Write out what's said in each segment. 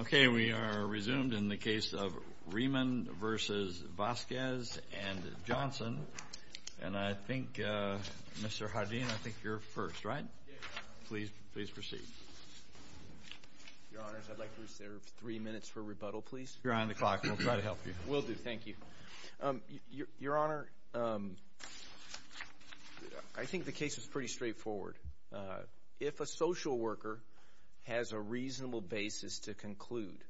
Okay, we are resumed in the case of Rieman v. Vasquez and Johnson. And I think, Mr. Hardeen, I think you're first, right? Yes, Your Honor. Please proceed. Your Honors, I'd like to reserve three minutes for rebuttal, please. You're on the clock. We'll try to help you. Will do. Thank you. Your Honor, I think the case is pretty straightforward. If a social worker has a reasonable basis to conclude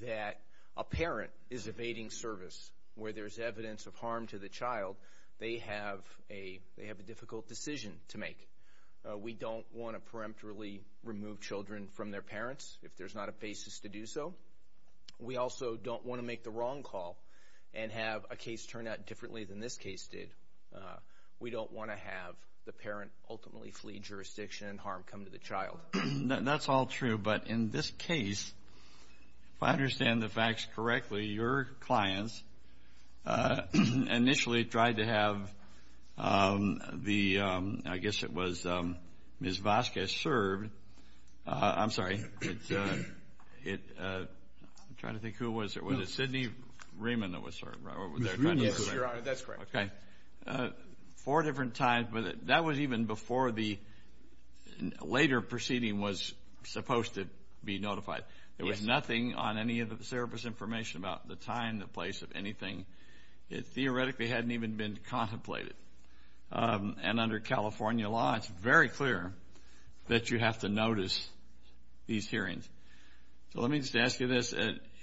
that a parent is evading service, where there's evidence of harm to the child, they have a difficult decision to make. We don't want to peremptorily remove children from their parents if there's not a basis to do so. We also don't want to make the wrong call and have a case turn out differently than this case did. We don't want to have the parent ultimately flee jurisdiction and harm come to the child. That's all true, but in this case, if I understand the facts correctly, your clients initially tried to have the, I guess it was Ms. Vasquez served. I'm sorry. I'm trying to think who it was. Was it Sidney Rieman that was served? Yes, Your Honor, that's correct. Four different times, but that was even before the later proceeding was supposed to be notified. There was nothing on any of the service information about the time, the place of anything. It theoretically hadn't even been contemplated. And under California law, it's very clear that you have to notice these hearings. So let me just ask you this.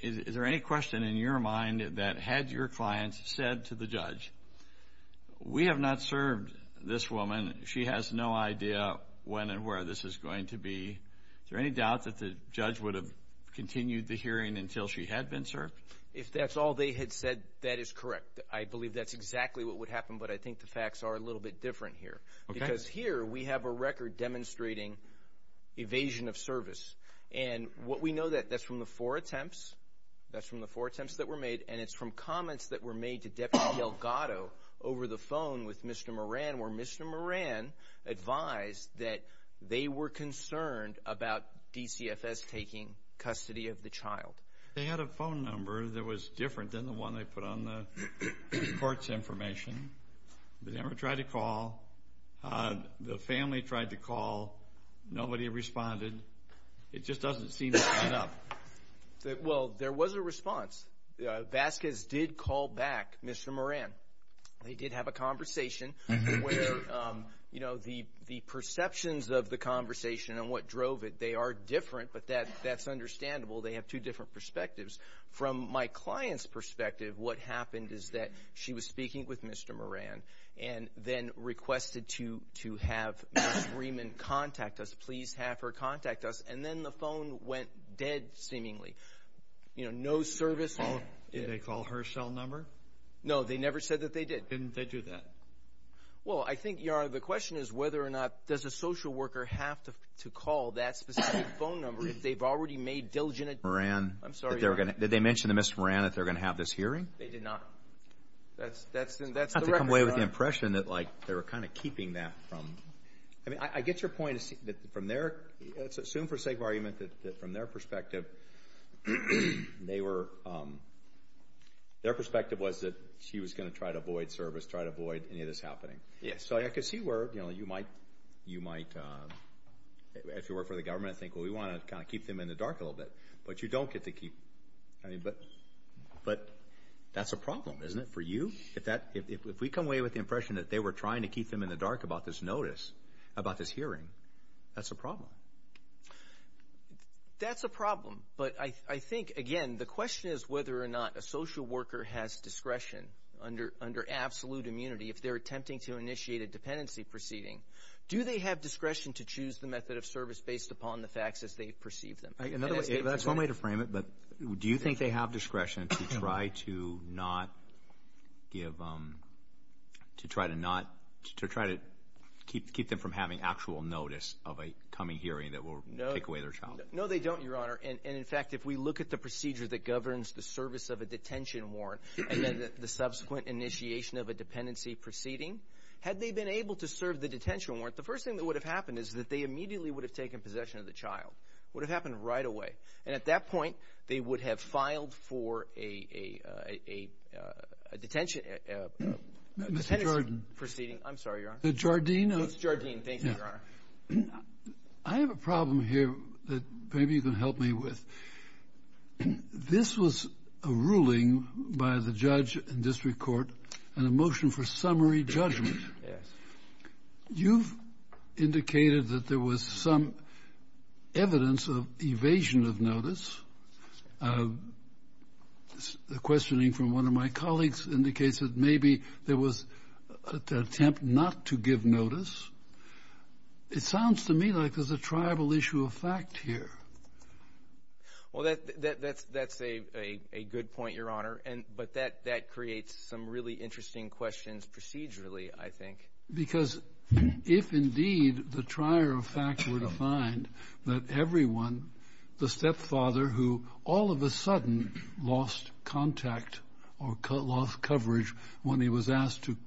Is there any question in your mind that had your clients said to the judge, we have not served this woman, she has no idea when and where this is going to be, is there any doubt that the judge would have continued the hearing until she had been served? If that's all they had said, that is correct. I believe that's exactly what would happen, but I think the facts are a little bit different here. Because here we have a record demonstrating evasion of service. And what we know, that's from the four attempts. That's from the four attempts that were made, and it's from comments that were made to Deputy Delgado over the phone with Mr. Moran, where Mr. Moran advised that they were concerned about DCFS taking custody of the child. They had a phone number that was different than the one they put on the court's information. They never tried to call. The family tried to call. Nobody responded. It just doesn't seem to add up. Well, there was a response. Vasquez did call back Mr. Moran. They did have a conversation where, you know, the perceptions of the conversation and what drove it, they are different, but that's understandable. They have two different perspectives. From my client's perspective, what happened is that she was speaking with Mr. Moran and then requested to have Ms. Freeman contact us, please have her contact us, and then the phone went dead, seemingly. You know, no service. Did they call her cell number? No, they never said that they did. Didn't they do that? Well, I think, Your Honor, the question is whether or not, does a social worker have to call that specific phone number if they've already made diligent attempts? Did they mention to Mr. Moran that they were going to have this hearing? They did not. That's the record, Your Honor. I have to come away with the impression that, like, they were kind of keeping that from... I mean, I get your point. From their, let's assume for sake of argument, that from their perspective, they were, their perspective was that she was going to try to avoid service, try to avoid any of this happening. Yes. So I could see where, you know, you might, if you work for the government, you might want to think, well, we want to kind of keep them in the dark a little bit. But you don't get to keep... I mean, but that's a problem, isn't it, for you? If we come away with the impression that they were trying to keep them in the dark about this notice, about this hearing, that's a problem. That's a problem. But I think, again, the question is whether or not a social worker has discretion under absolute immunity if they're attempting to initiate a dependency proceeding. Do they have discretion to choose the method of service based upon the facts as they perceive them? That's one way to frame it. But do you think they have discretion to try to not give, to try to not, to try to keep them from having actual notice of a coming hearing that will take away their child? No, they don't, Your Honor. And, in fact, if we look at the procedure that governs the service of a detention warrant and then the subsequent initiation of a dependency proceeding, had they been able to serve the detention warrant, the first thing that would have happened is that they immediately would have taken possession of the child. It would have happened right away. And at that point, they would have filed for a detention... Mr. Jardine. Dependency proceeding. I'm sorry, Your Honor. Mr. Jardine. It's Jardine. Thank you, Your Honor. I have a problem here that maybe you can help me with. This was a ruling by the judge in district court and a motion for summary judgment. Yes. You've indicated that there was some evidence of evasion of notice. The questioning from one of my colleagues indicates that maybe there was an attempt not to give notice. It sounds to me like there's a triable issue of fact here. Well, that's a good point, Your Honor. But that creates some really interesting questions procedurally, I think. Because if indeed the trier of fact were to find that everyone, the stepfather, who all of a sudden lost contact or lost coverage when he was asked to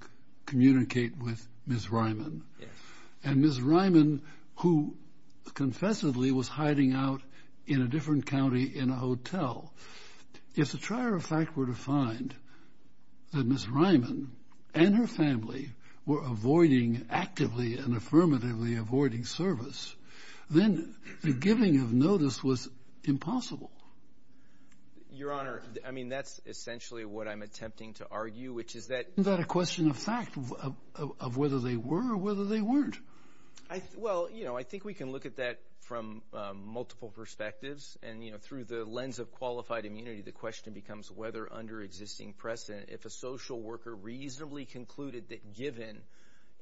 communicate with Ms. Ryman, and Ms. Ryman, who confessedly was hiding out in a different county in a hotel, if the trier of fact were to find that Ms. Ryman and her family were avoiding actively and affirmatively avoiding service, then the giving of notice was impossible. Your Honor, I mean, that's essentially what I'm attempting to argue, which is that— Isn't that a question of fact, of whether they were or whether they weren't? Well, you know, I think we can look at that from multiple perspectives. And, you know, through the lens of qualified immunity, the question becomes whether under existing precedent, if a social worker reasonably concluded that given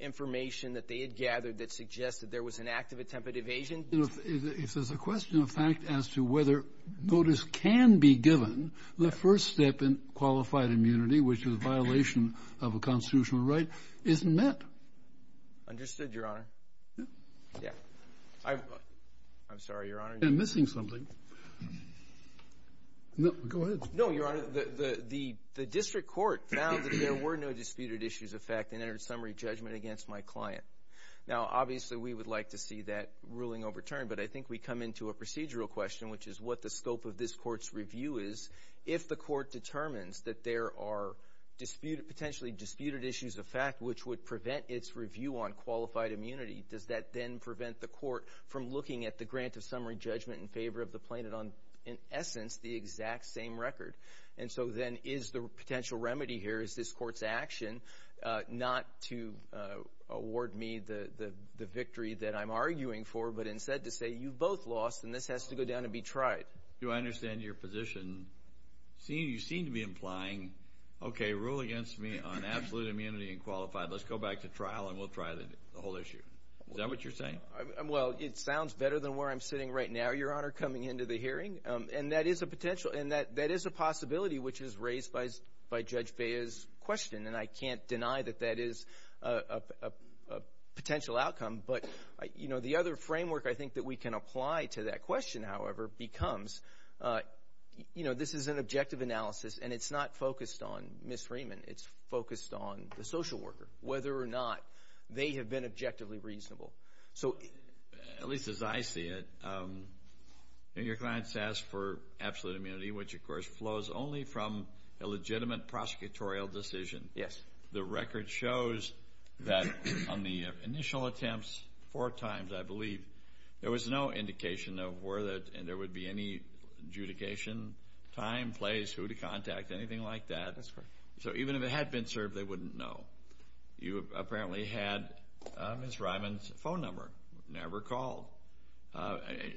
information that they had gathered that suggested there was an active attempt at evasion— If there's a question of fact as to whether notice can be given, the first step in qualified immunity, which is a violation of a constitutional right, isn't met. Understood, Your Honor. Yeah. I'm sorry, Your Honor. I'm missing something. Go ahead. No, Your Honor. The district court found that there were no disputed issues of fact and entered summary judgment against my client. Now, obviously, we would like to see that ruling overturned, but I think we come into a procedural question, which is what the scope of this court's review is. If the court determines that there are potentially disputed issues of fact, which would prevent its review on qualified immunity, does that then prevent the court from looking at the grant of summary judgment in favor of the plaintiff on, in essence, the exact same record? And so then is the potential remedy here, is this court's action not to award me the victory that I'm arguing for but instead to say you both lost and this has to go down and be tried? Do I understand your position? You seem to be implying, okay, rule against me on absolute immunity and qualified. Let's go back to trial and we'll try the whole issue. Is that what you're saying? Well, it sounds better than where I'm sitting right now. Thank you, Your Honor, coming into the hearing. And that is a potential, and that is a possibility which is raised by Judge Bea's question, and I can't deny that that is a potential outcome. But, you know, the other framework I think that we can apply to that question, however, becomes, you know, this is an objective analysis and it's not focused on Ms. Freeman. It's focused on the social worker, whether or not they have been objectively reasonable. So, at least as I see it, your client's asked for absolute immunity, which, of course, flows only from a legitimate prosecutorial decision. Yes. The record shows that on the initial attempts four times, I believe, there was no indication of where and there would be any adjudication, time, place, who to contact, anything like that. That's correct. So even if it had been served, they wouldn't know. You apparently had Ms. Ryman's phone number, never called.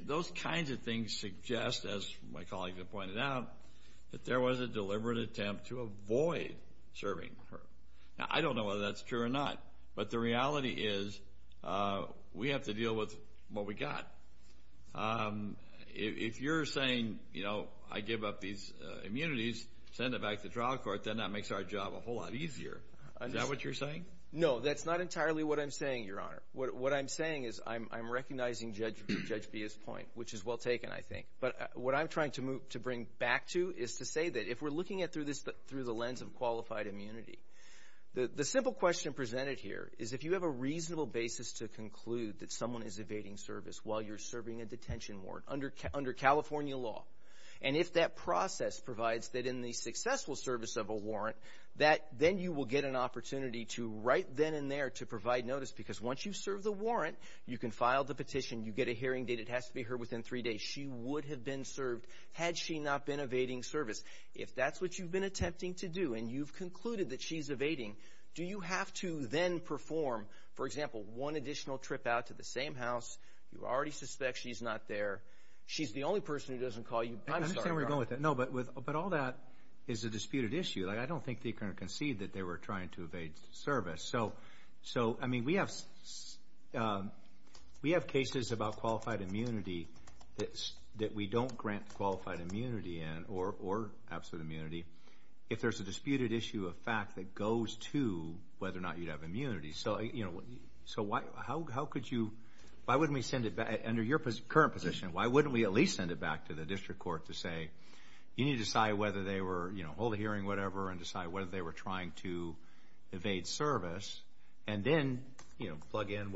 Those kinds of things suggest, as my colleagues have pointed out, that there was a deliberate attempt to avoid serving her. Now, I don't know whether that's true or not, but the reality is we have to deal with what we got. If you're saying, you know, I give up these immunities, send it back to trial court, then that makes our job a whole lot easier. Is that what you're saying? No, that's not entirely what I'm saying, Your Honor. What I'm saying is I'm recognizing Judge B's point, which is well taken, I think. But what I'm trying to bring back to is to say that if we're looking at this through the lens of qualified immunity, the simple question presented here is if you have a reasonable basis to conclude that someone is evading service while you're serving a detention warrant under California law, and if that process provides that in the successful service of a warrant, then you will get an opportunity to right then and there to provide notice because once you serve the warrant, you can file the petition, you get a hearing date, it has to be heard within three days, she would have been served had she not been evading service. If that's what you've been attempting to do and you've concluded that she's evading, do you have to then perform, for example, one additional trip out to the same house, you already suspect she's not there, she's the only person who doesn't call you, I'm sorry, Your Honor. I understand where you're going with that. No, but all that is a disputed issue. I don't think they can concede that they were trying to evade service. So, I mean, we have cases about qualified immunity that we don't grant qualified immunity in or absolute immunity if there's a disputed issue of fact that goes to whether or not you'd have immunity. So, you know, how could you, why wouldn't we send it back, under your current position, why wouldn't we at least send it back to the district court to say, you need to decide whether they were, you know, hold a hearing, whatever, and decide whether they were trying to evade service and then, you know, plug in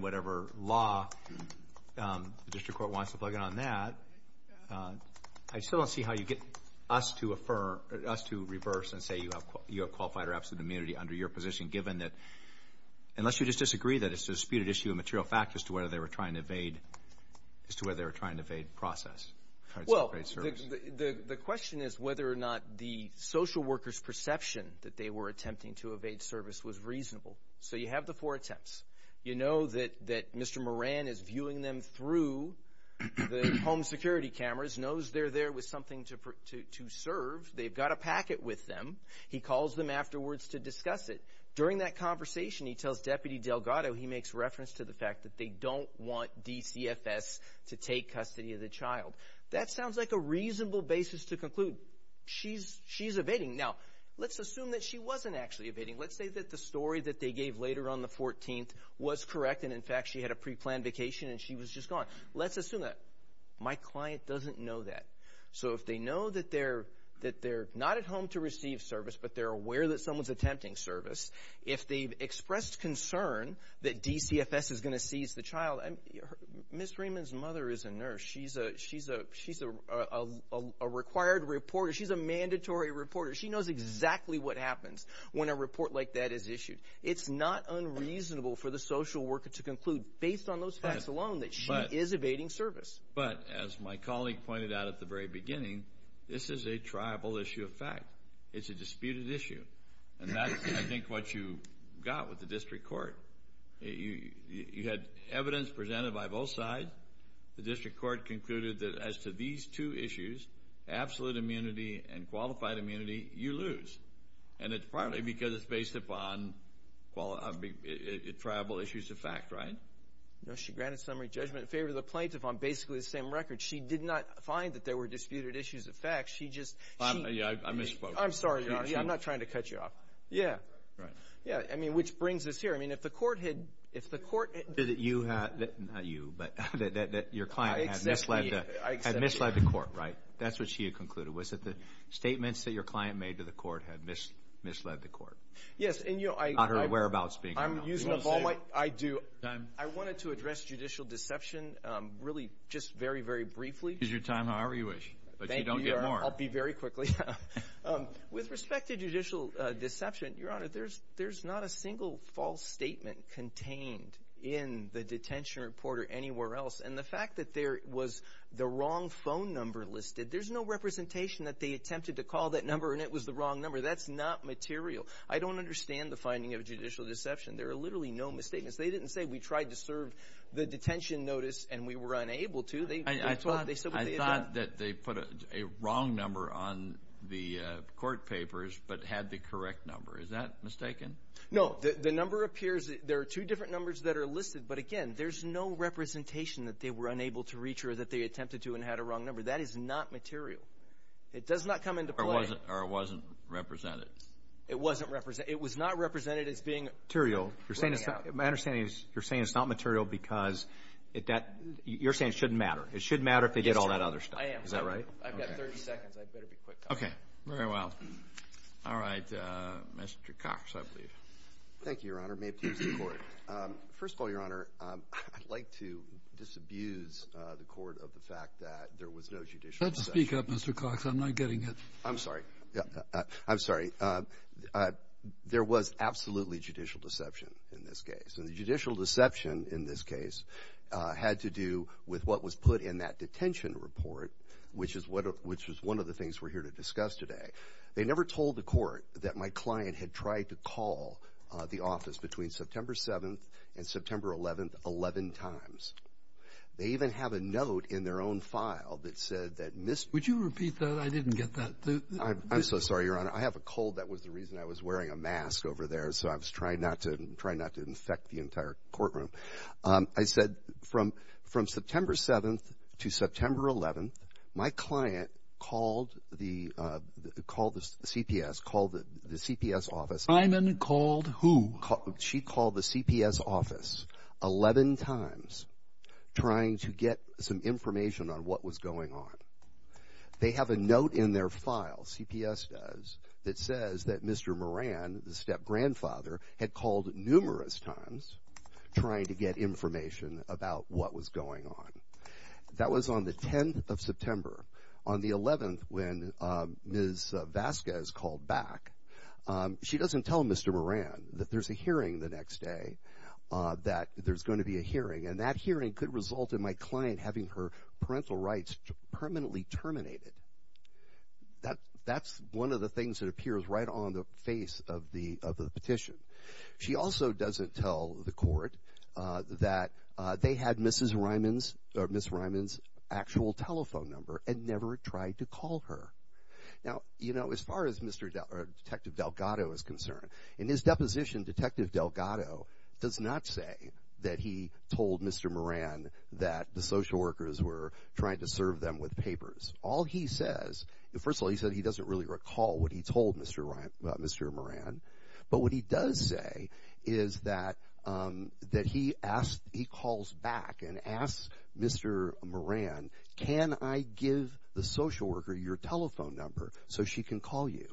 whatever law the district court wants to plug in on that. I still don't see how you get us to reverse and say you have qualified or absolute immunity under your position given that, unless you just disagree that it's a disputed issue of material fact as to whether they were trying to evade, as to whether they were trying to evade process. Well, the question is whether or not the social worker's perception that they were attempting to evade service was reasonable. So you have the four attempts. You know that Mr. Moran is viewing them through the home security cameras, knows they're there with something to serve. They've got a packet with them. He calls them afterwards to discuss it. During that conversation, he tells Deputy Delgado he makes reference to the fact that they don't want DCFS to take custody of the child. That sounds like a reasonable basis to conclude. She's evading. Now, let's assume that she wasn't actually evading. Let's say that the story that they gave later on the 14th was correct and, in fact, she had a preplanned vacation and she was just gone. Let's assume that. My client doesn't know that. So if they know that they're not at home to receive service but they're aware that someone's attempting service, if they've expressed concern that DCFS is going to seize the child, Ms. Freeman's mother is a nurse. She's a required reporter. She's a mandatory reporter. She knows exactly what happens when a report like that is issued. It's not unreasonable for the social worker to conclude, based on those facts alone, that she is evading service. But, as my colleague pointed out at the very beginning, this is a triable issue of fact. It's a disputed issue. And that's, I think, what you got with the district court. You had evidence presented by both sides. The district court concluded that as to these two issues, absolute immunity and qualified immunity, you lose. And it's partly because it's based upon triable issues of fact, right? No. She granted summary judgment in favor of the plaintiff on basically the same record. She did not find that there were disputed issues of fact. I misspoke. I'm sorry. I'm not trying to cut you off. Yeah. Right. Yeah. I mean, which brings us here. I mean, if the court had— Not you, but that your client had misled the court, right? That's what she had concluded, was that the statements that your client made to the court had misled the court. Yes. Not her whereabouts being known. I do. I wanted to address judicial deception really just very, very briefly. Use your time however you wish, but you don't get more. Thank you, Your Honor. I'll be very quickly. With respect to judicial deception, Your Honor, there's not a single false statement contained in the detention report or anywhere else. And the fact that there was the wrong phone number listed, there's no representation that they attempted to call that number and it was the wrong number. That's not material. I don't understand the finding of judicial deception. There are literally no misstatements. They didn't say we tried to serve the detention notice and we were unable to. I thought that they put a wrong number on the court papers but had the correct number. Is that mistaken? No. The number appears—there are two different numbers that are listed, but again, there's no representation that they were unable to reach or that they attempted to and had a wrong number. That is not material. It does not come into play. Or it wasn't represented. It wasn't represented. My understanding is you're saying it's not material because you're saying it shouldn't matter. It shouldn't matter if they did all that other stuff. I am. Is that right? I've got 30 seconds. I'd better be quick. Okay. Very well. All right. Mr. Cox, I believe. Thank you, Your Honor. May it please the Court. First of all, Your Honor, I'd like to disabuse the Court of the fact that there was no judicial deception. Speak up, Mr. Cox. I'm not getting it. I'm sorry. I'm sorry. There was absolutely judicial deception in this case. And the judicial deception in this case had to do with what was put in that detention report, which was one of the things we're here to discuss today. They never told the Court that my client had tried to call the office between September 7th and September 11th 11 times. They even have a note in their own file that said that Mr. Would you repeat that? I'm so sorry, Your Honor. I have a cold. That was the reason I was wearing a mask over there. So I was trying not to infect the entire courtroom. I said from September 7th to September 11th, my client called the CPS, called the CPS office. Simon called who? She called the CPS office 11 times trying to get some information on what was going on. They have a note in their file, CPS does, that says that Mr. Moran, the step-grandfather, had called numerous times trying to get information about what was going on. That was on the 10th of September. On the 11th, when Ms. Vasquez called back, she doesn't tell Mr. Moran that there's a hearing the next day, that there's going to be a hearing. And that hearing could result in my client having her parental rights permanently terminated. That's one of the things that appears right on the face of the petition. She also doesn't tell the court that they had Ms. Ryman's actual telephone number and never tried to call her. Now, you know, as far as Detective Delgado is concerned, in his deposition, Detective Delgado does not say that he told Mr. Moran that the social workers were trying to serve them with papers. All he says, first of all, he says he doesn't really recall what he told Mr. Moran, but what he does say is that he calls back and asks Mr. Moran, can I give the social worker your telephone number so she can call you?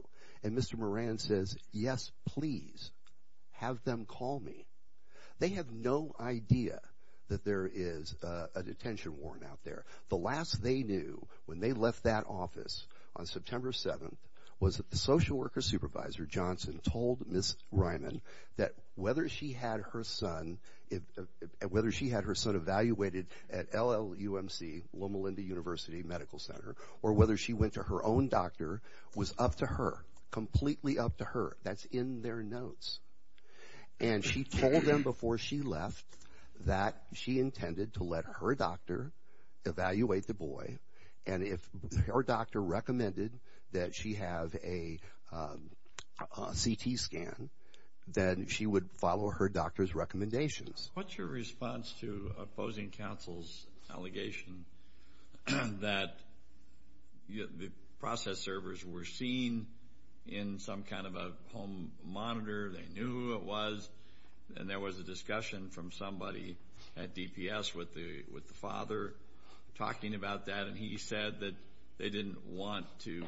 And Mr. Moran says, yes, please. Have them call me. They have no idea that there is a detention warrant out there. The last they knew when they left that office on September 7th was that the social worker supervisor, Johnson, told Ms. Ryman that whether she had her son evaluated at LLUMC, Loma Linda University Medical Center, or whether she went to her own doctor was up to her, completely up to her. That's in their notes. And she told them before she left that she intended to let her doctor evaluate the boy, and if her doctor recommended that she have a CT scan, then she would follow her doctor's recommendations. What's your response to opposing counsel's allegation that the process servers were seen in some kind of a home monitor, they knew who it was, and there was a discussion from somebody at DPS with the father talking about that, and he said that they didn't want to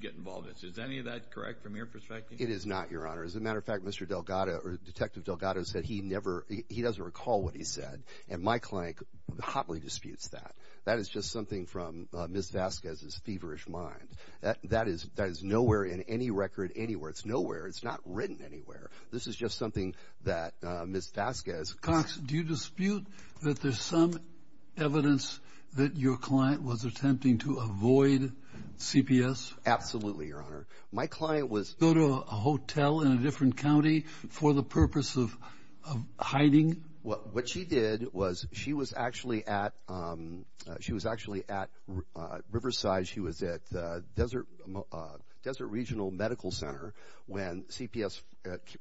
get involved. Is any of that correct from your perspective? It is not, Your Honor. As a matter of fact, Mr. Delgado or Detective Delgado said he doesn't recall what he said, and my client hotly disputes that. That is just something from Ms. Vasquez's feverish mind. That is nowhere in any record anywhere. It's nowhere. It's not written anywhere. This is just something that Ms. Vasquez. Cox, do you dispute that there's some evidence that your client was attempting to avoid CPS? Absolutely, Your Honor. Go to a hotel in a different county for the purpose of hiding? What she did was she was actually at Riverside. She was at Desert Regional Medical Center when CPS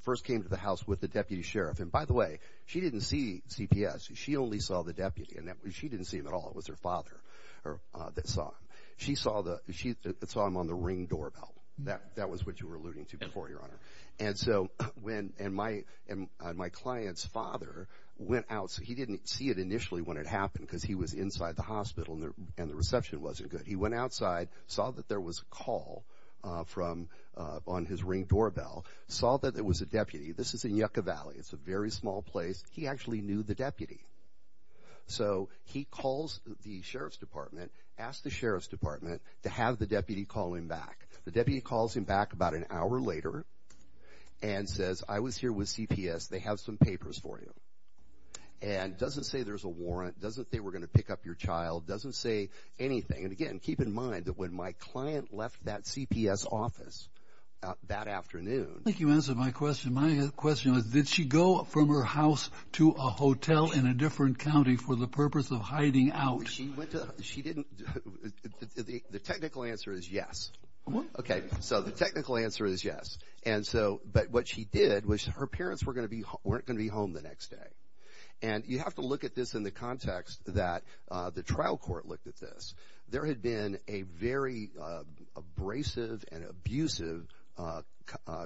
first came to the house with the deputy sheriff. And by the way, she didn't see CPS. She only saw the deputy, and she didn't see him at all. It was her father that saw him. She saw him on the ring doorbell. That was what you were alluding to before, Your Honor. And so when my client's father went out, he didn't see it initially when it happened because he was inside the hospital and the reception wasn't good. He went outside, saw that there was a call on his ring doorbell, saw that there was a deputy. This is in Yucca Valley. It's a very small place. He actually knew the deputy. So he calls the sheriff's department, asks the sheriff's department to have the deputy call him back. The deputy calls him back about an hour later and says, I was here with CPS. They have some papers for you. And doesn't say there's a warrant. Doesn't say they were going to pick up your child. Doesn't say anything. And again, keep in mind that when my client left that CPS office that afternoon. I think you answered my question. Did she go from her house to a hotel in a different county for the purpose of hiding out? She didn't. The technical answer is yes. Okay. So the technical answer is yes. But what she did was her parents weren't going to be home the next day. And you have to look at this in the context that the trial court looked at this. There had been a very abrasive and abusive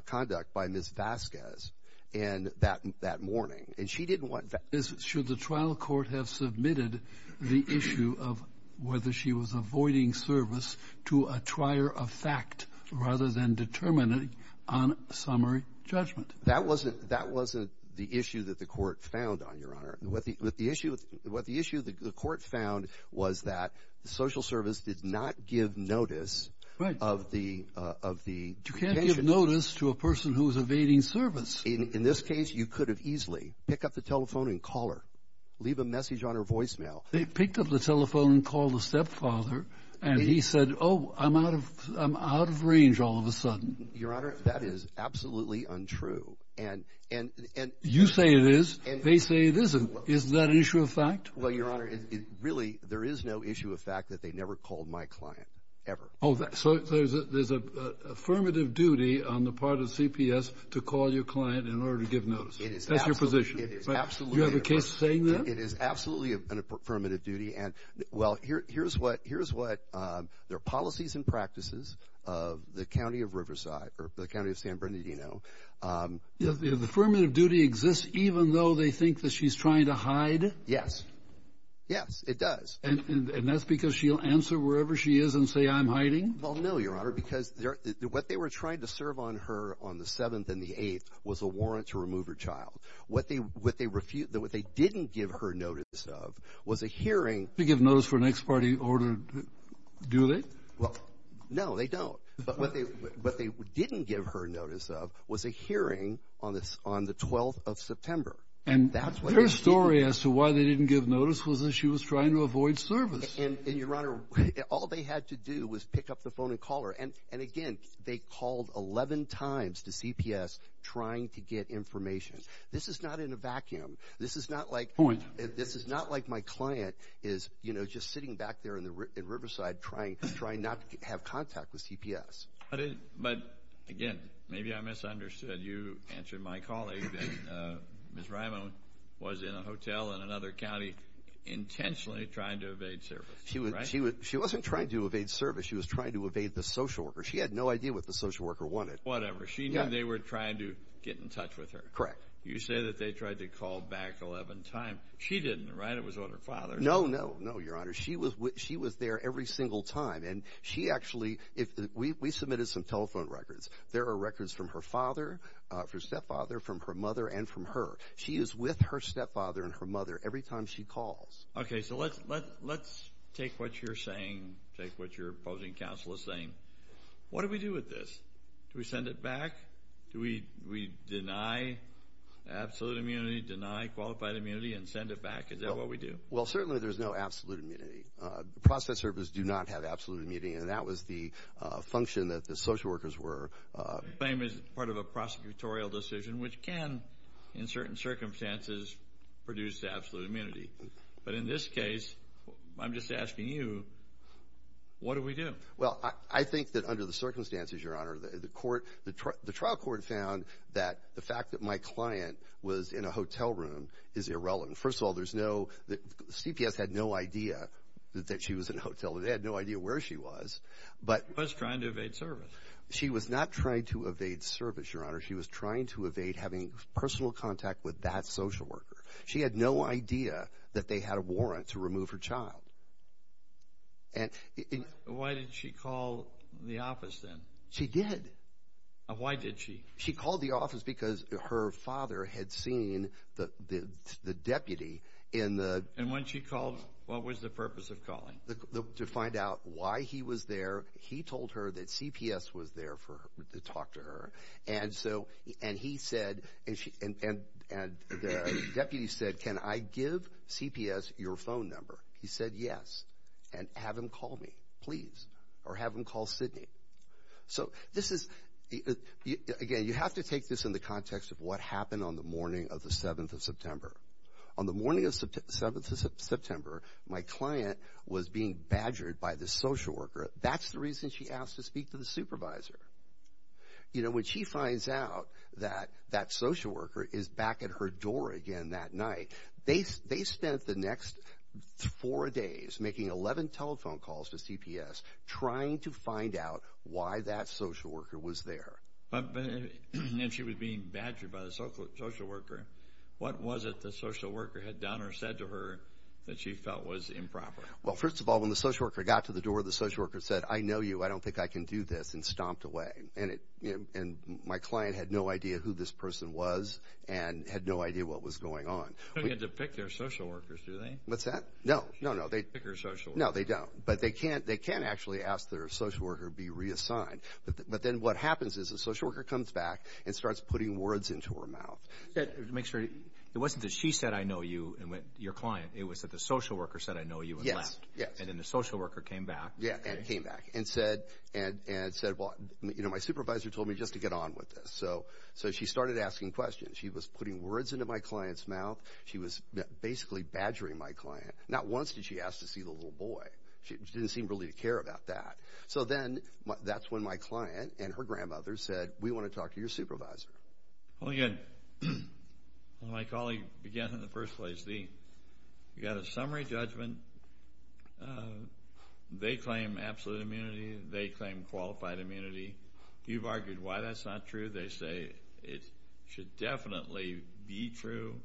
conduct by Ms. Vasquez that morning. And she didn't want that. Should the trial court have submitted the issue of whether she was avoiding service to a trier of fact rather than determining on summary judgment? That wasn't the issue that the court found, Your Honor. What the issue the court found was that the social service did not give notice of the. You can't give notice to a person who is evading service. In this case, you could have easily picked up the telephone and called her. Leave a message on her voicemail. They picked up the telephone and called the stepfather. And he said, oh, I'm out of range all of a sudden. Your Honor, that is absolutely untrue. You say it is. They say it isn't. Isn't that an issue of fact? Well, Your Honor, really, there is no issue of fact that they never called my client ever. So there's an affirmative duty on the part of CPS to call your client in order to give notice. That's your position. It is absolutely. Do you have a case saying that? It is absolutely an affirmative duty. Well, here's what their policies and practices of the county of Riverside or the county of San Bernardino. The affirmative duty exists even though they think that she's trying to hide? Yes. Yes, it does. And that's because she'll answer wherever she is and say, I'm hiding? Well, no, Your Honor, because what they were trying to serve on her on the 7th and the 8th was a warrant to remove her child. What they didn't give her notice of was a hearing. They give notice for an ex parte order, do they? No, they don't. But what they didn't give her notice of was a hearing on the 12th of September. And their story as to why they didn't give notice was that she was trying to avoid service. And, Your Honor, all they had to do was pick up the phone and call her. And, again, they called 11 times to CPS trying to get information. This is not in a vacuum. This is not like my client is, you know, just sitting back there in Riverside trying not to have contact with CPS. But, again, maybe I misunderstood. You answered my call, Aiden. Ms. Rimo was in a hotel in another county intentionally trying to evade service, right? She wasn't trying to evade service. She was trying to evade the social worker. She had no idea what the social worker wanted. Whatever. She knew they were trying to get in touch with her. Correct. You say that they tried to call back 11 times. She didn't, right? It was on her father. No, no, no, Your Honor. She was there every single time. And she actually, we submitted some telephone records. There are records from her father, her stepfather, from her mother, and from her. She is with her stepfather and her mother every time she calls. Okay. So let's take what you're saying, take what your opposing counsel is saying. What do we do with this? Do we send it back? Do we deny absolute immunity, deny qualified immunity, and send it back? Is that what we do? Well, certainly there's no absolute immunity. Process services do not have absolute immunity, and that was the function that the social workers were. The claim is part of a prosecutorial decision, which can, in certain circumstances, produce absolute immunity. But in this case, I'm just asking you, what do we do? Well, I think that under the circumstances, Your Honor, the trial court found that the fact that my client was in a hotel room is irrelevant. First of all, CPS had no idea that she was in a hotel room. They had no idea where she was. But she was trying to evade service. She was not trying to evade service, Your Honor. She was trying to evade having personal contact with that social worker. She had no idea that they had a warrant to remove her child. Why did she call the office then? She did. Why did she? She called the office because her father had seen the deputy in the— And when she called, what was the purpose of calling? To find out why he was there. He told her that CPS was there to talk to her. And he said, and the deputy said, can I give CPS your phone number? He said yes. And have him call me, please. Or have him call Sidney. So this is—again, you have to take this in the context of what happened on the morning of the 7th of September. On the morning of the 7th of September, my client was being badgered by this social worker. That's the reason she asked to speak to the supervisor. You know, when she finds out that that social worker is back at her door again that night, they spent the next four days making 11 telephone calls to CPS trying to find out why that social worker was there. And she was being badgered by the social worker. What was it the social worker had done or said to her that she felt was improper? Well, first of all, when the social worker got to the door, the social worker said, I know you, I don't think I can do this, and stomped away. And my client had no idea who this person was and had no idea what was going on. They don't get to pick their social workers, do they? What's that? No, no, no. They don't get to pick their social worker. No, they don't. But they can actually ask their social worker to be reassigned. But then what happens is the social worker comes back and starts putting words into her mouth. To make sure—it wasn't that she said, I know you, and went to your client. It was that the social worker said, I know you, and left. Yes, yes. And then the social worker came back. Yeah, and came back and said, well, you know, my supervisor told me just to get on with this. So she started asking questions. She was putting words into my client's mouth. She was basically badgering my client. Not once did she ask to see the little boy. She didn't seem really to care about that. So then that's when my client and her grandmother said, we want to talk to your supervisor. Well, again, my colleague began in the first place. You've got a summary judgment. They claim absolute immunity. They claim qualified immunity. You've argued why that's not true. They say it should definitely be true.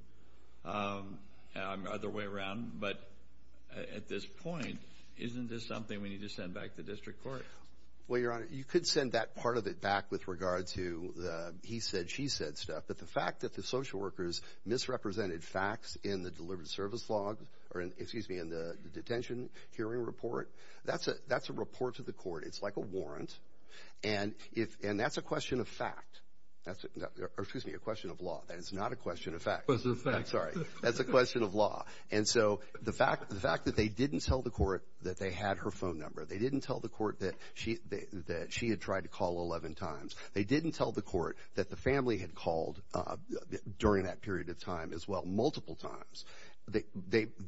Other way around. But at this point, isn't this something we need to send back to district court? Well, Your Honor, you could send that part of it back with regard to the he said, she said stuff. But the fact that the social workers misrepresented facts in the delivered service log— excuse me, in the detention hearing report, that's a report to the court. It's like a warrant. And that's a question of fact. Excuse me, a question of law. That is not a question of fact. Sorry. That's a question of law. And so the fact that they didn't tell the court that they had her phone number, they didn't tell the court that she had tried to call 11 times, they didn't tell the court that the family had called during that period of time as well multiple times.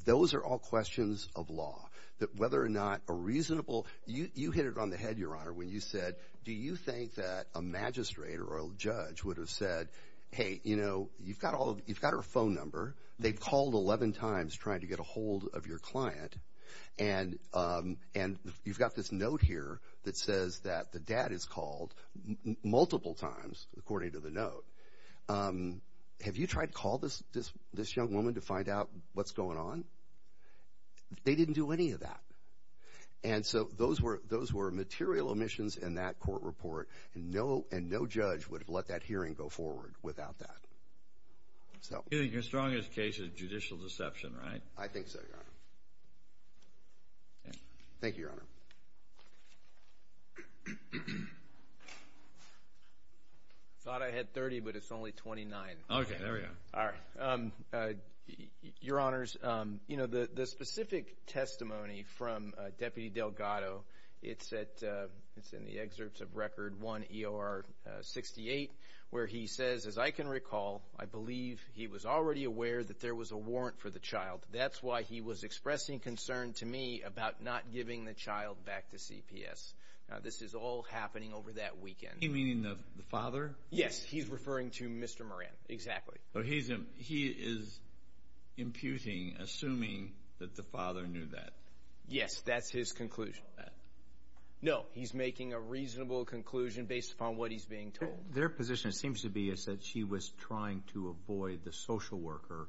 Those are all questions of law. Whether or not a reasonable— You hit it on the head, Your Honor, when you said, do you think that a magistrate or a judge would have said, hey, you know, you've got her phone number. They've called 11 times trying to get a hold of your client. And you've got this note here that says that the dad has called multiple times, according to the note. Have you tried to call this young woman to find out what's going on? They didn't do any of that. And so those were material omissions in that court report, and no judge would have let that hearing go forward without that. You think your strongest case is judicial deception, right? I think so, Your Honor. Thank you, Your Honor. Thought I had 30, but it's only 29. Okay, there we go. All right. Your Honors, you know, the specific testimony from Deputy Delgado, it's in the excerpts of Record 1 EOR 68 where he says, as I can recall, I believe he was already aware that there was a warrant for the child. That's why he was expressing concern to me about not giving the child back to CPS. Now, this is all happening over that weekend. You mean the father? Yes, he's referring to Mr. Moran, exactly. So he is imputing, assuming that the father knew that. Yes, that's his conclusion. No, he's making a reasonable conclusion based upon what he's being told. Their position, it seems to be, is that she was trying to avoid the social worker,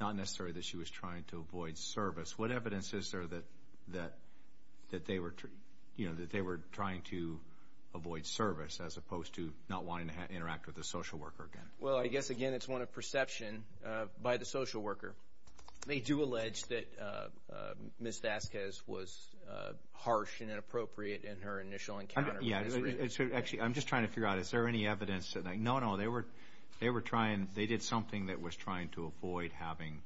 not necessarily that she was trying to avoid service. What evidence is there that they were trying to avoid service as opposed to not wanting to interact with the social worker again? Well, I guess, again, it's one of perception by the social worker. They do allege that Ms. Vasquez was harsh and inappropriate in her initial encounter. Actually, I'm just trying to figure out, is there any evidence? No, no, they were trying, they did something that was trying to avoid having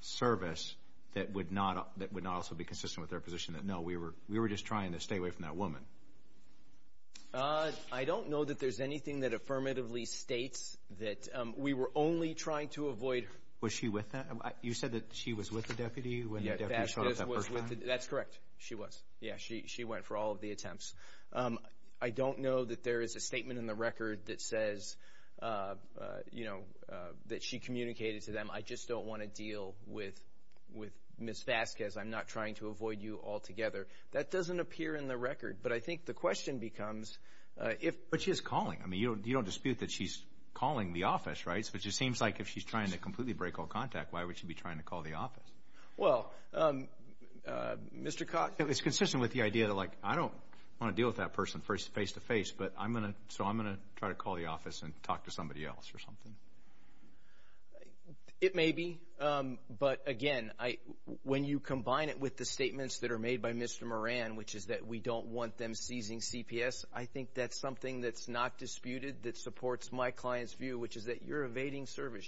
service that would not also be consistent with their position, that no, we were just trying to stay away from that woman. I don't know that there's anything that affirmatively states that we were only trying to avoid her. Was she with them? You said that she was with the deputy when the deputy showed up that first time? That's correct. She was. Yeah, she went for all of the attempts. I don't know that there is a statement in the record that says, you know, that she communicated to them, I just don't want to deal with Ms. Vasquez. I'm not trying to avoid you altogether. That doesn't appear in the record, but I think the question becomes if. But she is calling. I mean, you don't dispute that she's calling the office, right? It just seems like if she's trying to completely break all contact, why would she be trying to call the office? Well, Mr. Cox. It's consistent with the idea that, like, I don't want to deal with that person face-to-face, so I'm going to try to call the office and talk to somebody else or something. It may be. But, again, when you combine it with the statements that are made by Mr. Moran, which is that we don't want them seizing CPS, I think that's something that's not disputed that supports my client's view, which is that you're evading service.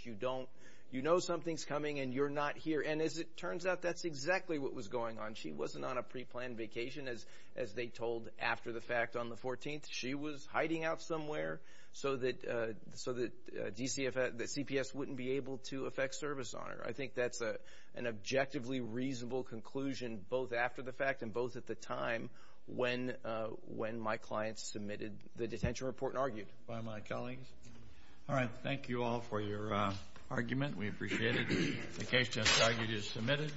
You know something's coming and you're not here. And as it turns out, that's exactly what was going on. She wasn't on a preplanned vacation, as they told after the fact on the 14th. She was hiding out somewhere so that CPS wouldn't be able to affect service on her. I think that's an objectively reasonable conclusion, both after the fact and both at the time when my client submitted the detention report and argued. By my colleagues. All right. Thank you all for your argument. We appreciate it. The case just argued is submitted.